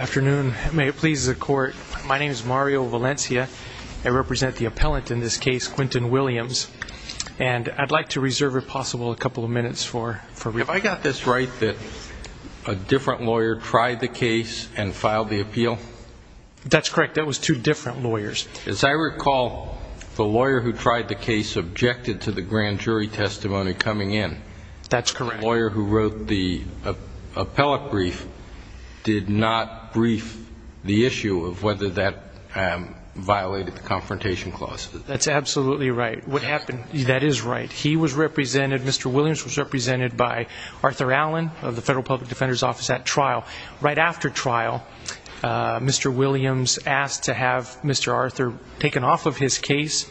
afternoon may it please the court my name is Mario Valencia I represent the appellant in this case Quinton Williams and I'd like to reserve if possible a couple of minutes for if I got this right that a different lawyer tried the case and filed the appeal that's correct that was two different lawyers as I recall the lawyer who tried the case objected to the grand jury testimony coming in that's correct lawyer who wrote the appellate brief did not brief the issue of whether that violated the confrontation clause that's absolutely right what happened that is right he was represented mr. Williams was represented by Arthur Allen of the Federal Public Defender's Office at trial right after trial mr. Williams asked to have mr. Arthur taken off of his case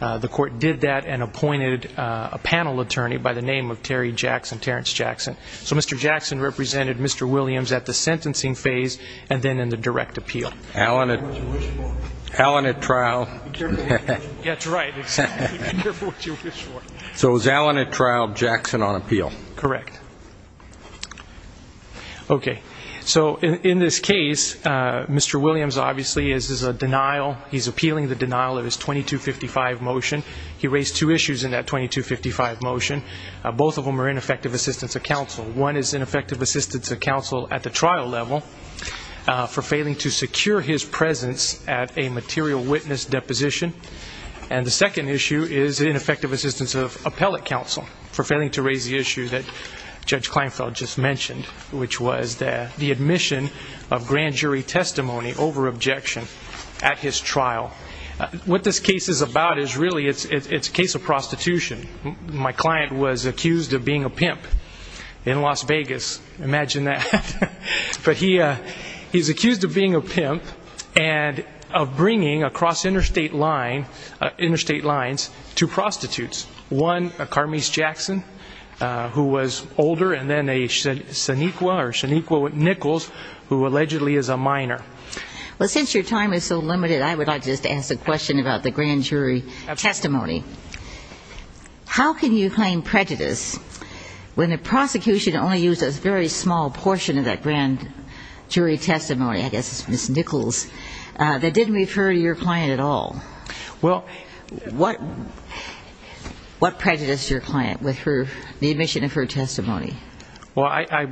the court did that and appointed a panel attorney by the name of Terry Jackson Terrence Jackson so mr. Jackson represented mr. Williams at the sentencing phase and then in the direct appeal Alan Allen at trial so was Alan at trial Jackson on appeal correct okay so in this case mr. Williams obviously is a denial he's he raised two issues in that 2255 motion both of them are ineffective assistance of counsel one is ineffective assistance of counsel at the trial level for failing to secure his presence at a material witness deposition and the second issue is ineffective assistance of appellate counsel for failing to raise the issue that judge Kleinfeld just mentioned which was that the admission of grand jury testimony over objection at his trial what this case is about is really it's it's a case of prostitution my client was accused of being a pimp in Las Vegas imagine that but he he's accused of being a pimp and of bringing across interstate line interstate lines to prostitutes one a Carmese Jackson who was older and then they said Saniqua or Saniqua with Nichols who allegedly is a minor well since your time is so limited I would just ask a question about the grand jury testimony how can you claim prejudice when the prosecution only used a very small portion of that grand jury testimony I guess it's miss Nichols that didn't refer to your client at all well what what prejudiced your client with her the admission of her testimony well I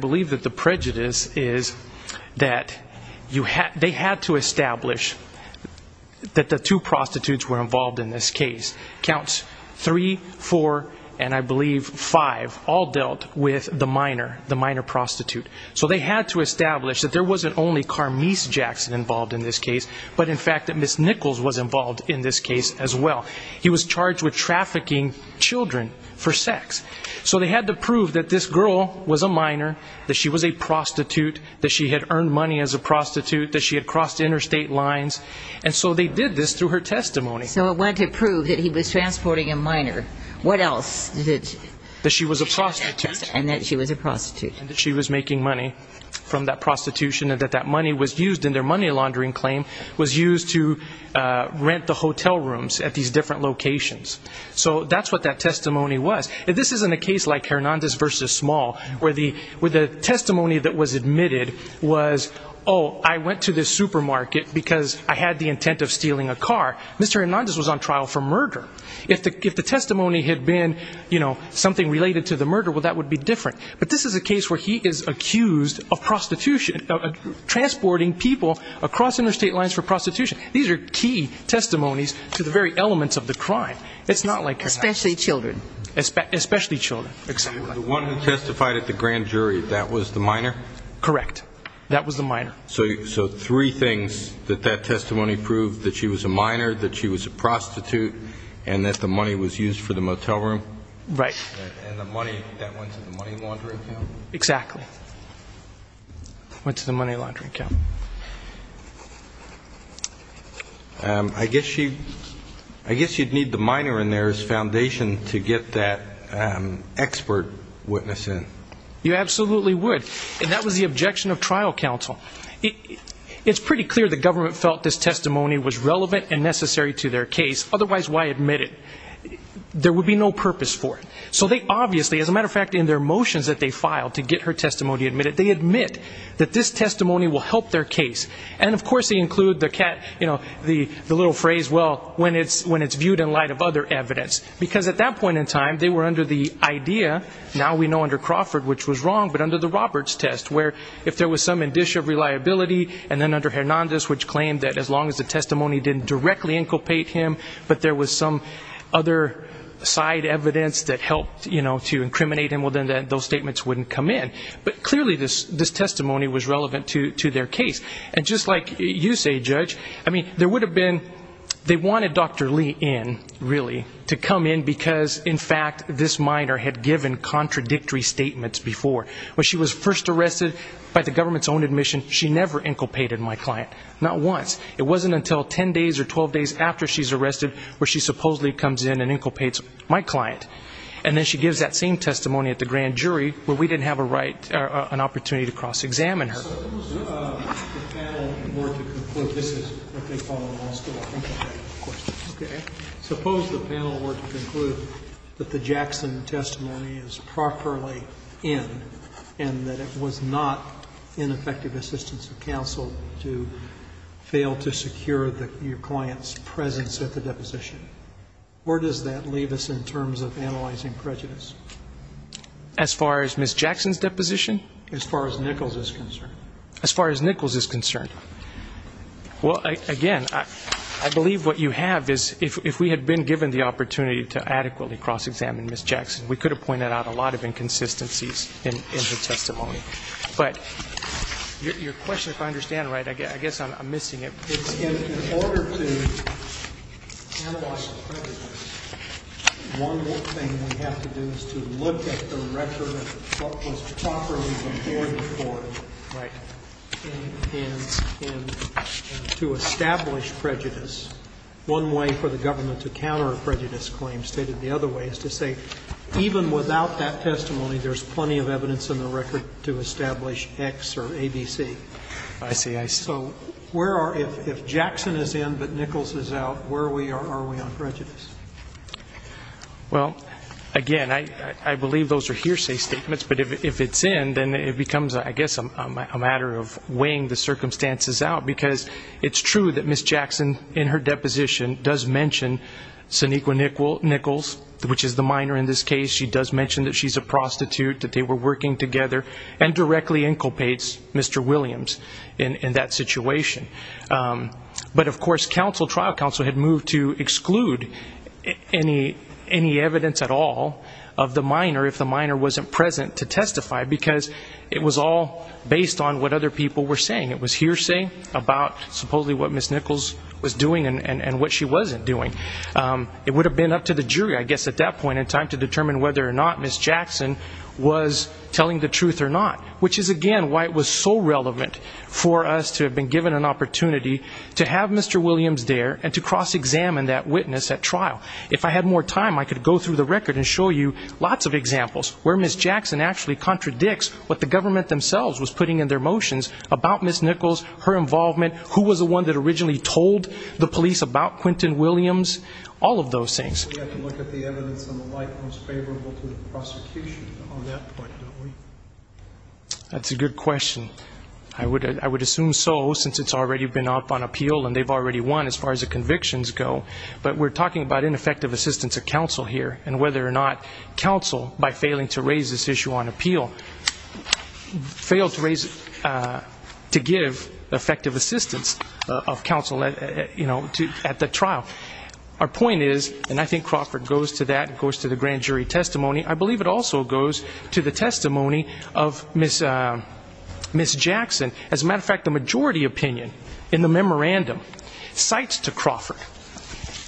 that the two prostitutes were involved in this case counts three four and I believe five all dealt with the minor the minor prostitute so they had to establish that there wasn't only Carmese Jackson involved in this case but in fact that miss Nichols was involved in this case as well he was charged with trafficking children for sex so they had to prove that this girl was a minor that she was a prostitute that she had earned money as a prostitute that she had interstate lines and so they did this through her testimony so I want to prove that he was transporting a minor what else did that she was a prostitute and that she was a prostitute she was making money from that prostitution and that that money was used in their money laundering claim was used to rent the hotel rooms at these different locations so that's what that testimony was if this isn't a case like Hernandez versus small where the with a testimony that was admitted was oh I went to the supermarket because I had the intent of stealing a car mr. Hernandez was on trial for murder if the if the testimony had been you know something related to the murder well that would be different but this is a case where he is accused of prostitution transporting people across interstate lines for prostitution these are key testimonies to the very elements of the crime it's not like especially children especially children testified at the grand jury that was the minor correct that was the minor so so three things that that testimony proved that she was a minor that she was a prostitute and that the money was used for the motel room right exactly went to the money laundry account I guess she I guess you'd need the minor in there's to get that expert witness in you absolutely would and that was the objection of trial counsel it's pretty clear the government felt this testimony was relevant and necessary to their case otherwise why admit it there would be no purpose for it so they obviously as a matter of fact in their motions that they filed to get her testimony admitted they admit that this testimony will help their case and of course they include the cat you know the the little phrase well when it's when it's viewed in light of other evidence because at that point in time they were under the idea now we know under Crawford which was wrong but under the Roberts test where if there was some addition of reliability and then under Hernandez which claimed that as long as the testimony didn't directly inculpate him but there was some other side evidence that helped you know to incriminate him well then that those statements wouldn't come in but clearly this this testimony was relevant to to their case and just like you say judge I mean there would have been they wanted dr. Lee in really to come in because in fact this minor had given contradictory statements before when she was first arrested by the government's own admission she never inculpated my client not once it wasn't until 10 days or 12 days after she's arrested where she supposedly comes in and inculpates my client and then she gives that same testimony at the grand jury where we didn't have a right an opportunity to suppose the panel were to conclude that the Jackson testimony is properly in and that it was not in effective assistance of counsel to fail to secure that your clients presence at the deposition where does that leave us in terms of analyzing prejudice as far as Miss Jackson's deposition as far as Nichols is concerned as far as Nichols is concerned well again I believe what you have is if we had been given the opportunity to adequately cross-examine Miss Jackson we could have pointed out a lot of inconsistencies in the testimony but your question if I understand right I guess I'm missing it to establish prejudice one way for the government to counter a prejudice claim stated the other way is to say even without that testimony there's plenty of evidence in the record to establish X or ABC I see I so where are if Jackson is in but Nichols is out where we are we on prejudice well again I I believe those are hearsay statements but if it's in then it becomes I guess I'm a matter of weighing the circumstances out because it's true that Miss Jackson in her deposition does mention Sonequa Nichols Nichols which is the minor in this case she does mention that she's a prostitute that they were working together and directly inculpates Mr. Williams in that situation but of course counsel trial counsel had moved to exclude any any evidence at all of the minor wasn't present to testify because it was all based on what other people were saying it was hearsay about supposedly what Miss Nichols was doing and and what she wasn't doing it would have been up to the jury I guess at that point in time to determine whether or not Miss Jackson was telling the truth or not which is again why it was so relevant for us to have been given an opportunity to have Mr. Williams there and to cross-examine that witness at trial if I had more time I could go through the record and show you lots of examples where Miss Jackson actually contradicts what the government themselves was putting in their motions about Miss Nichols her involvement who was the one that originally told the police about Quinton Williams all of those things that's a good question I would I would assume so since it's already been up on appeal and they've already won as far as the convictions go but we're talking about ineffective assistance of counsel here and whether or not counsel by failing to raise this issue on appeal failed to raise to give effective assistance of counsel let you know at the trial our point is and I think Crawford goes to that it goes to the grand jury testimony I believe it also goes to the testimony of Miss Miss Jackson as a matter of fact the majority opinion in the memorandum cites to Crawford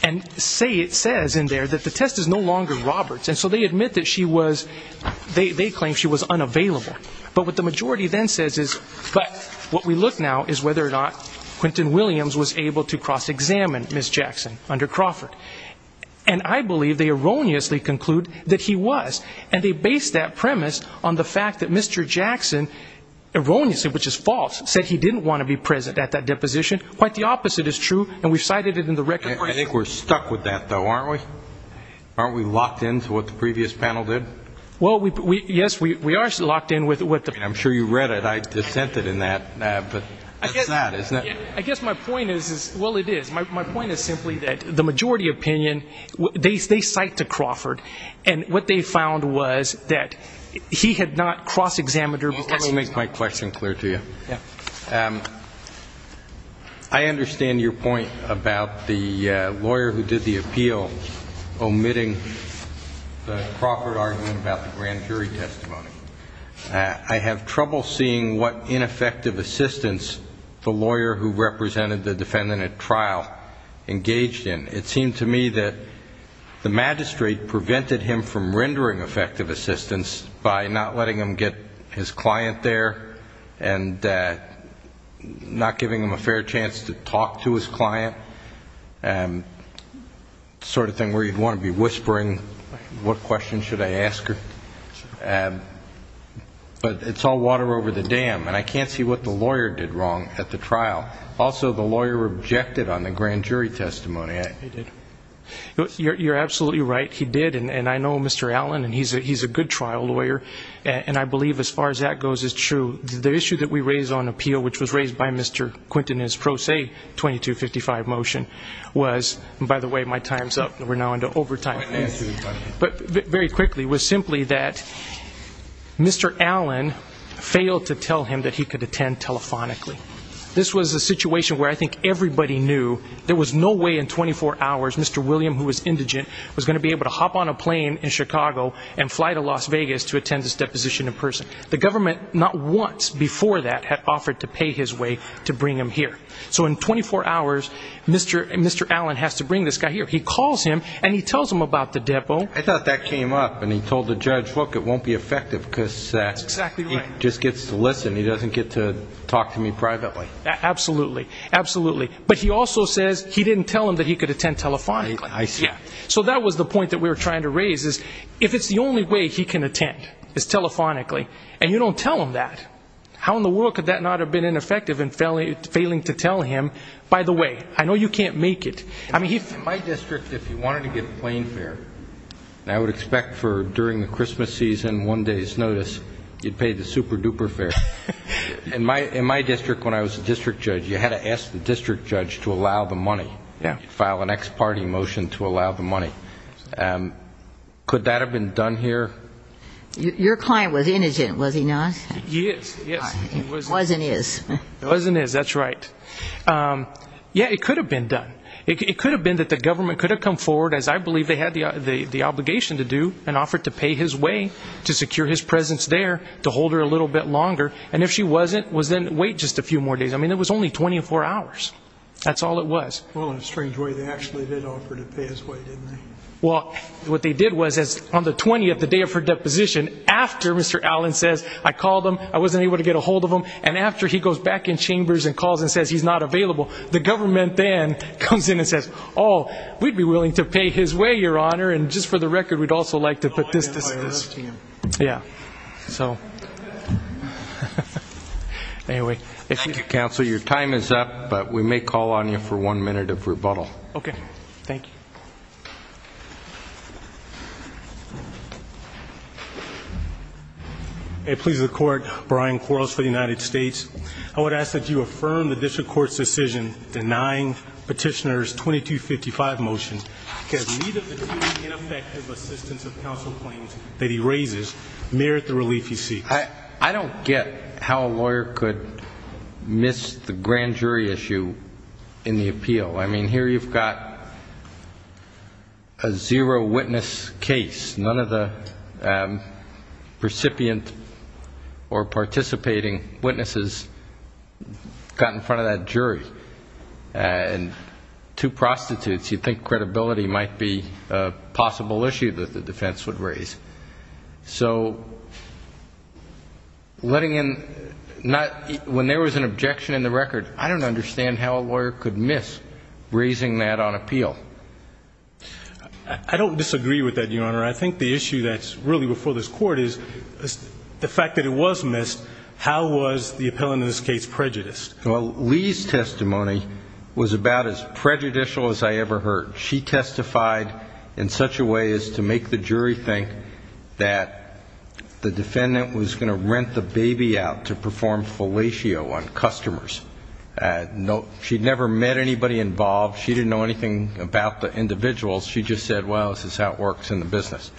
and say it says in there that the test is no longer Roberts and so they admit that she was they claim she was unavailable but what the majority then says is but what we look now is whether or not Quinton Williams was able to cross-examine Miss Jackson under Crawford and I believe they erroneously conclude that he was and they based that premise on the fact that mr. Jackson erroneously which is false said he didn't want to be present at that deposition quite the opposite is true and we've cited it in the record I think we're stuck with that though aren't we aren't we locked into what the previous panel did well we yes we are locked in with what the I'm sure you read it I just sent it in that I guess my point is well it is my point is simply that the majority opinion they cite to Crawford and what they found was that he had not cross-examined her make my question clear to you yeah I understand your point about the lawyer who did the appeal omitting the Crawford argument about the grand jury testimony I have trouble seeing what ineffective assistance the lawyer who represented the defendant at trial engaged in it seemed to me that the magistrate prevented him from rendering effective assistance by not letting him get his client there and not giving him a fair chance to talk to his client and sort of thing where you'd want to be whispering what question should I ask her and but it's all water over the dam and I can't see what the lawyer did wrong at the trial also the lawyer objected on the grand jury testimony I did you're absolutely right he did and I know mr. Allen and he's a he's a good trial lawyer and I believe as far as that goes is true the issue that we raise on appeal which was raised by mr. Quinton is pro se 2255 motion was by the way my time's up we're now into overtime but very quickly was simply that mr. Allen failed to tell him that he could attend telephonically this was a situation where I think everybody knew there was no way in 24 hours mr. William who was indigent was going to be able to hop on a plane in Chicago and fly to Las Vegas to attend this deposition in person the government not once before that had offered to pay his way to bring him here so in 24 hours mr. and mr. Allen has to bring this guy here he calls him and he tells him about the depo I thought that came up and he told the judge look it won't be effective because that's exactly just gets to listen he doesn't get to talk to me privately absolutely absolutely but he also says he didn't tell him that he could attend telephonically I see yeah so that was the point that we were trying to raise is if it's the only way he can attend it's telephonically and you don't tell him that how in the world could that not have been ineffective and failing to tell him by the way I know you can't make it I mean he's my district if you wanted to give plane fare I would expect for during the Christmas season one day's notice you'd pay the super-duper fare and my in my district when I was a district judge you had to ask the district judge to allow the money yeah file an ex parte motion to allow the money could that have been done here your client was innocent was he not wasn't is wasn't is that's right yeah it could have been done it could have been that the government could have come forward as I believe they had the the obligation to do and offered to pay his way to secure his presence there to hold her a little bit longer and if she wasn't was then wait just a few more days I mean it was only 24 hours that's all it was well in a strange way they actually did offer to pay his way didn't they well what they did was as on the 20th the day of her deposition after mr. Allen says I called him I wasn't able to get a hold of him and after he goes back in chambers and calls and says he's not available the government then comes in and says oh we'd be willing to pay his way your honor and just for the record we'd also like to put this yeah so anyway if you counsel your time is up but we may call on you for one minute of rebuttal okay thank you it pleases the court Brian quarrels for the United States I would ask that you affirm the district court's decision denying petitioners 2255 motion that he raises merit the relief you see I I don't get how a lawyer could miss the grand jury issue in the appeal I mean here you've got a zero witness case none of the recipient or participating witnesses got in front of that jury and two prostitutes you think credibility might be a possible issue that the defense would raise so letting in not when there was an objection in the record I don't understand how a lawyer could miss raising that on appeal I don't disagree with that your honor I think the issue that's really before this court is the fact that it was missed how was the appellant in this case prejudiced well Lee's testimony was about as prejudicial as I ever heard she testified in such a way as to make the jury think that the defendant was going to rent the baby out to perform fellatio on customers no she'd never met anybody involved she didn't know anything about the individuals she just said well this is how it works in the business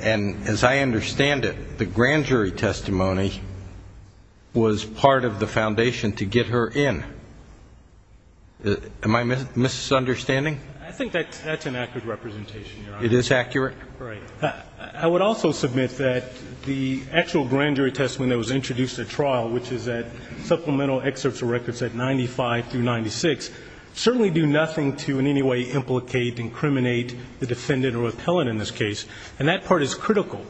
and as I understand it the grand jury testimony was part of the foundation to get her in my miss misunderstanding I think that's an accurate representation it is accurate I would also submit that the actual grand jury testimony that was introduced at trial which is that supplemental excerpts of records at 95 through 96 certainly do nothing to in any way implicate incriminate the defendant or appellant in this case and that part is critical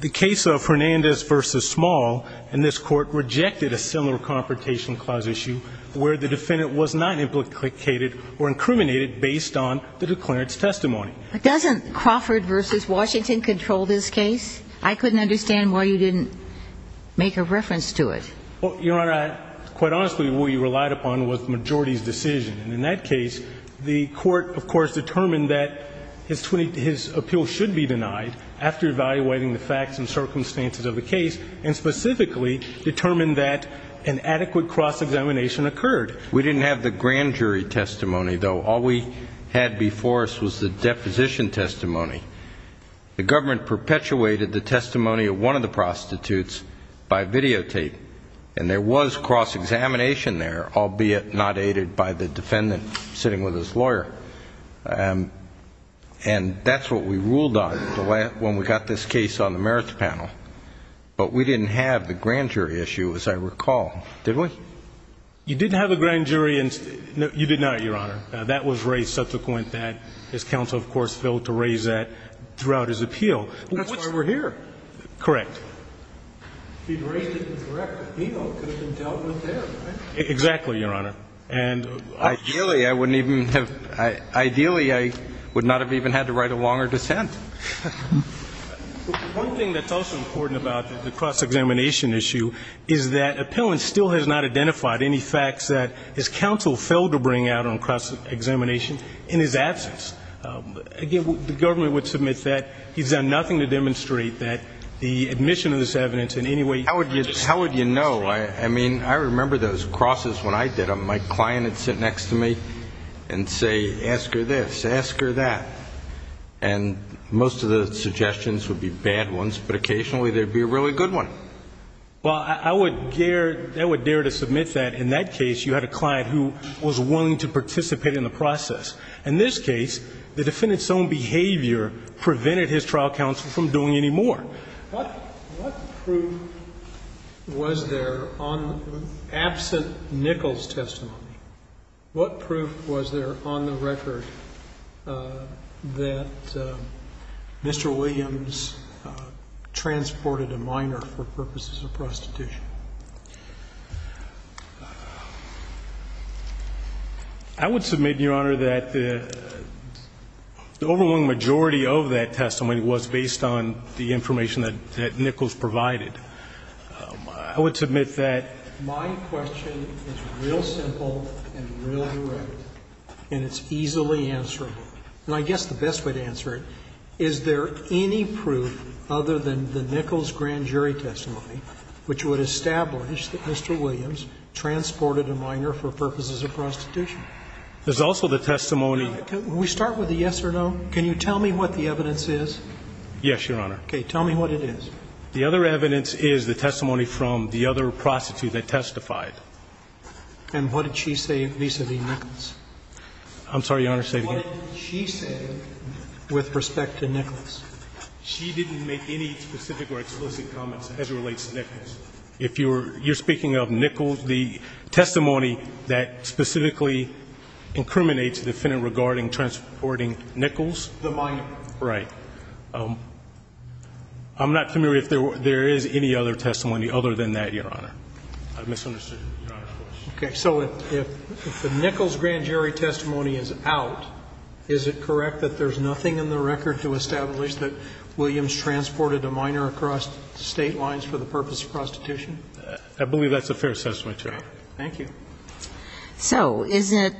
the case of Fernandez versus small and this court rejected a similar confrontation clause issue where the defendant was not implicated or incriminated based on the declarants testimony it doesn't Crawford versus Washington control this case I couldn't understand why you didn't make a reference to it well your honor quite honestly we relied upon with majority's decision in that case the court of course determined that his 20 his appeal should be denied after evaluating the facts and circumstances of the case and specifically determined that an adequate cross-examination occurred we didn't have the grand jury testimony though all we had before us was the deposition testimony the government perpetuated the testimony of one of the prostitutes by videotape and there was cross-examination there albeit not aided by the defendant sitting with his lawyer and and that's what we ruled on the way when we got this case on the merits panel but we didn't have the grand jury issue as I recall did we you didn't have a grand jury subsequent that his counsel of course failed to raise that throughout his appeal that's why we're here correct exactly your honor and ideally I wouldn't even have I ideally I would not have even had to write a longer dissent important about the cross-examination issue is that appellant still has not in his absence again the government would submit that he's done nothing to demonstrate that the admission of this evidence in any way how would you how would you know I mean I remember those crosses when I did a my client had sit next to me and say ask her this ask her that and most of the suggestions would be bad ones but occasionally there'd be a really good one well I would dare that would dare to submit that in that case you had a client who was willing to process in this case the defendant's own behavior prevented his trial counsel from doing any more what proof was there on absent Nichols testimony what proof was there on the record that mr. Williams transported a minor for purposes of prostitution I would submit your honor that the overwhelming majority of that testimony was based on the information that Nichols provided I would submit that my question is real simple and it's easily answerable and I guess the best way to answer it is there any proof other than the Nichols grand jury testimony which would establish that mr. Williams transported a minor for purposes of prostitution there's also the testimony we start with the yes or no can you tell me what the evidence is yes your honor okay tell me what it is the other evidence is the testimony from the other prostitute that testified and what did she say vis-a-vis Nichols I'm sorry your honor say what she said with respect to Nichols she didn't make any specific or explicit comments as it relates to Nichols if you were you're speaking of Nichols the testimony that specifically incriminates defendant regarding transporting Nichols the minor right I'm not familiar if there is any other testimony other than that your honor I misunderstood okay so if the Nichols grand jury testimony is out is it correct that there's nothing in the record to establish that Williams transported a minor across state lines for the purpose of prostitution I believe that's a fair assessment thank you so is it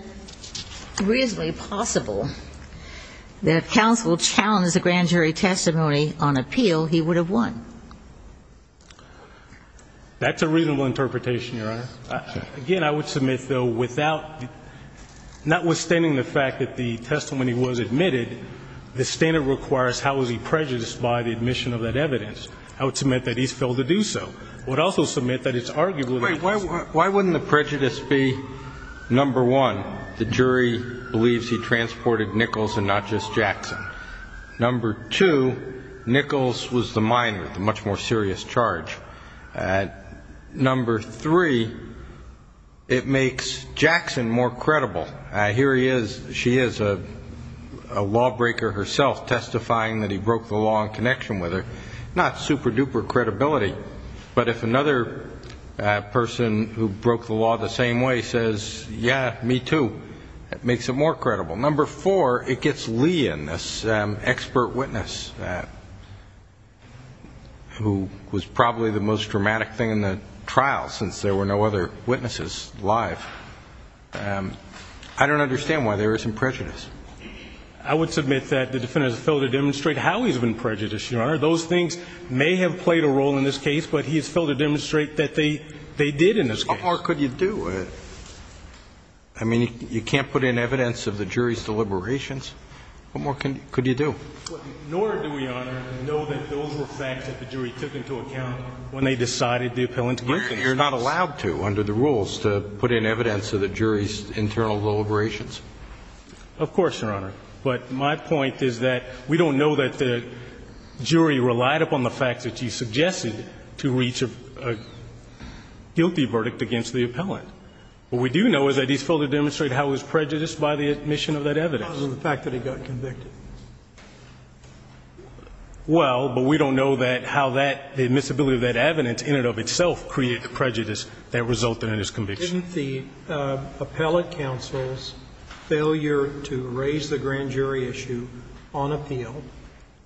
reasonably possible that counsel challenged the grand jury testimony on appeal he would have won that's a reasonable interpretation your honor again I would submit though without notwithstanding the fact that the testimony was admitted the standard requires how is he prejudiced by the admission of that evidence I would submit that he's failed to do so would also submit that it's arguably why wouldn't the prejudice be number one the jury believes he transported Nichols and not just Jackson number two Nichols was the minor the much more serious charge at number three it makes Jackson more credible here he is she is a lawbreaker herself testifying that he broke the law in connection with her not super-duper credibility but if another person who broke the law the same way says yeah me too it makes it more credible number four it gets Lee in this expert witness who was probably the most dramatic thing in the trial since there were no other witnesses live I don't understand why there isn't prejudice I would submit that the defendant is filled to demonstrate how he's been prejudiced your honor those things may have played a role in this case but he's filled to demonstrate that they they did in this or could you do it I mean you can't put in evidence of the jury's deliberations what more can could you do nor do we know that those were facts that the jury took into account when they decided the appellant you're not allowed to under the rules to put in evidence of the jury's internal deliberations of course your honor but my point is that we don't know that the jury relied upon the fact that you suggested to reach a guilty verdict against the appellant what we do know is that he's filled to demonstrate how his prejudice by the admission of that evidence the fact that he got convicted well but we don't know that how that the admissibility of that evidence in and of itself create the prejudice that resulted in his conviction didn't the appellate counsel's failure to raise the grand jury issue on appeal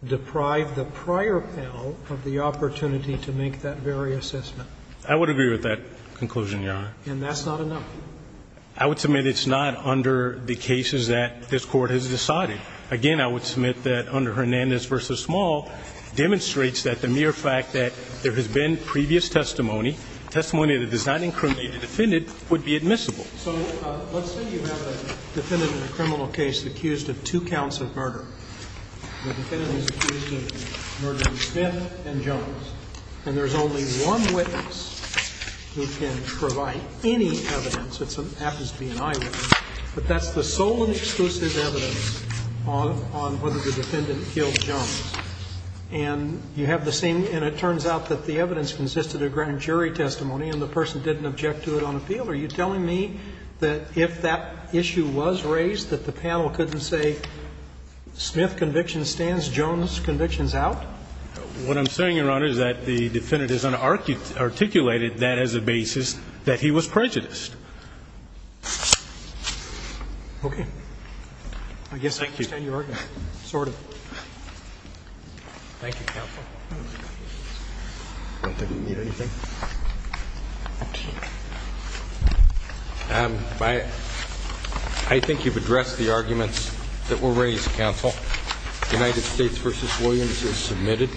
deprive the prior panel of the opportunity to make that very assessment I would agree with that conclusion your honor and that's not enough I would submit it's not under the cases that this court has decided again I would submit that under Hernandez versus Small demonstrates that the mere fact that there has been previous testimony testimony that does not incriminate the defendant would be admissible so let's say you have a defendant in a criminal case accused of two counts of murder the defendant is accused of murdering Smith and Jones and there's only one witness who can provide any evidence that happens to be an eyewitness but that's the sole and exclusive evidence on whether the defendant killed Jones and you have the same and it turns out that the evidence consisted of grand jury testimony and the person didn't object to it on appeal are you telling me that if that issue was raised that the panel couldn't say Smith conviction stands Jones convictions out what I'm saying your honor is that the defendant is unarticulated that as a basis that he was prejudiced okay I guess thank you thank you counsel I don't think we need anything I think you've addressed the arguments that were raised counsel United States versus Williams is submitted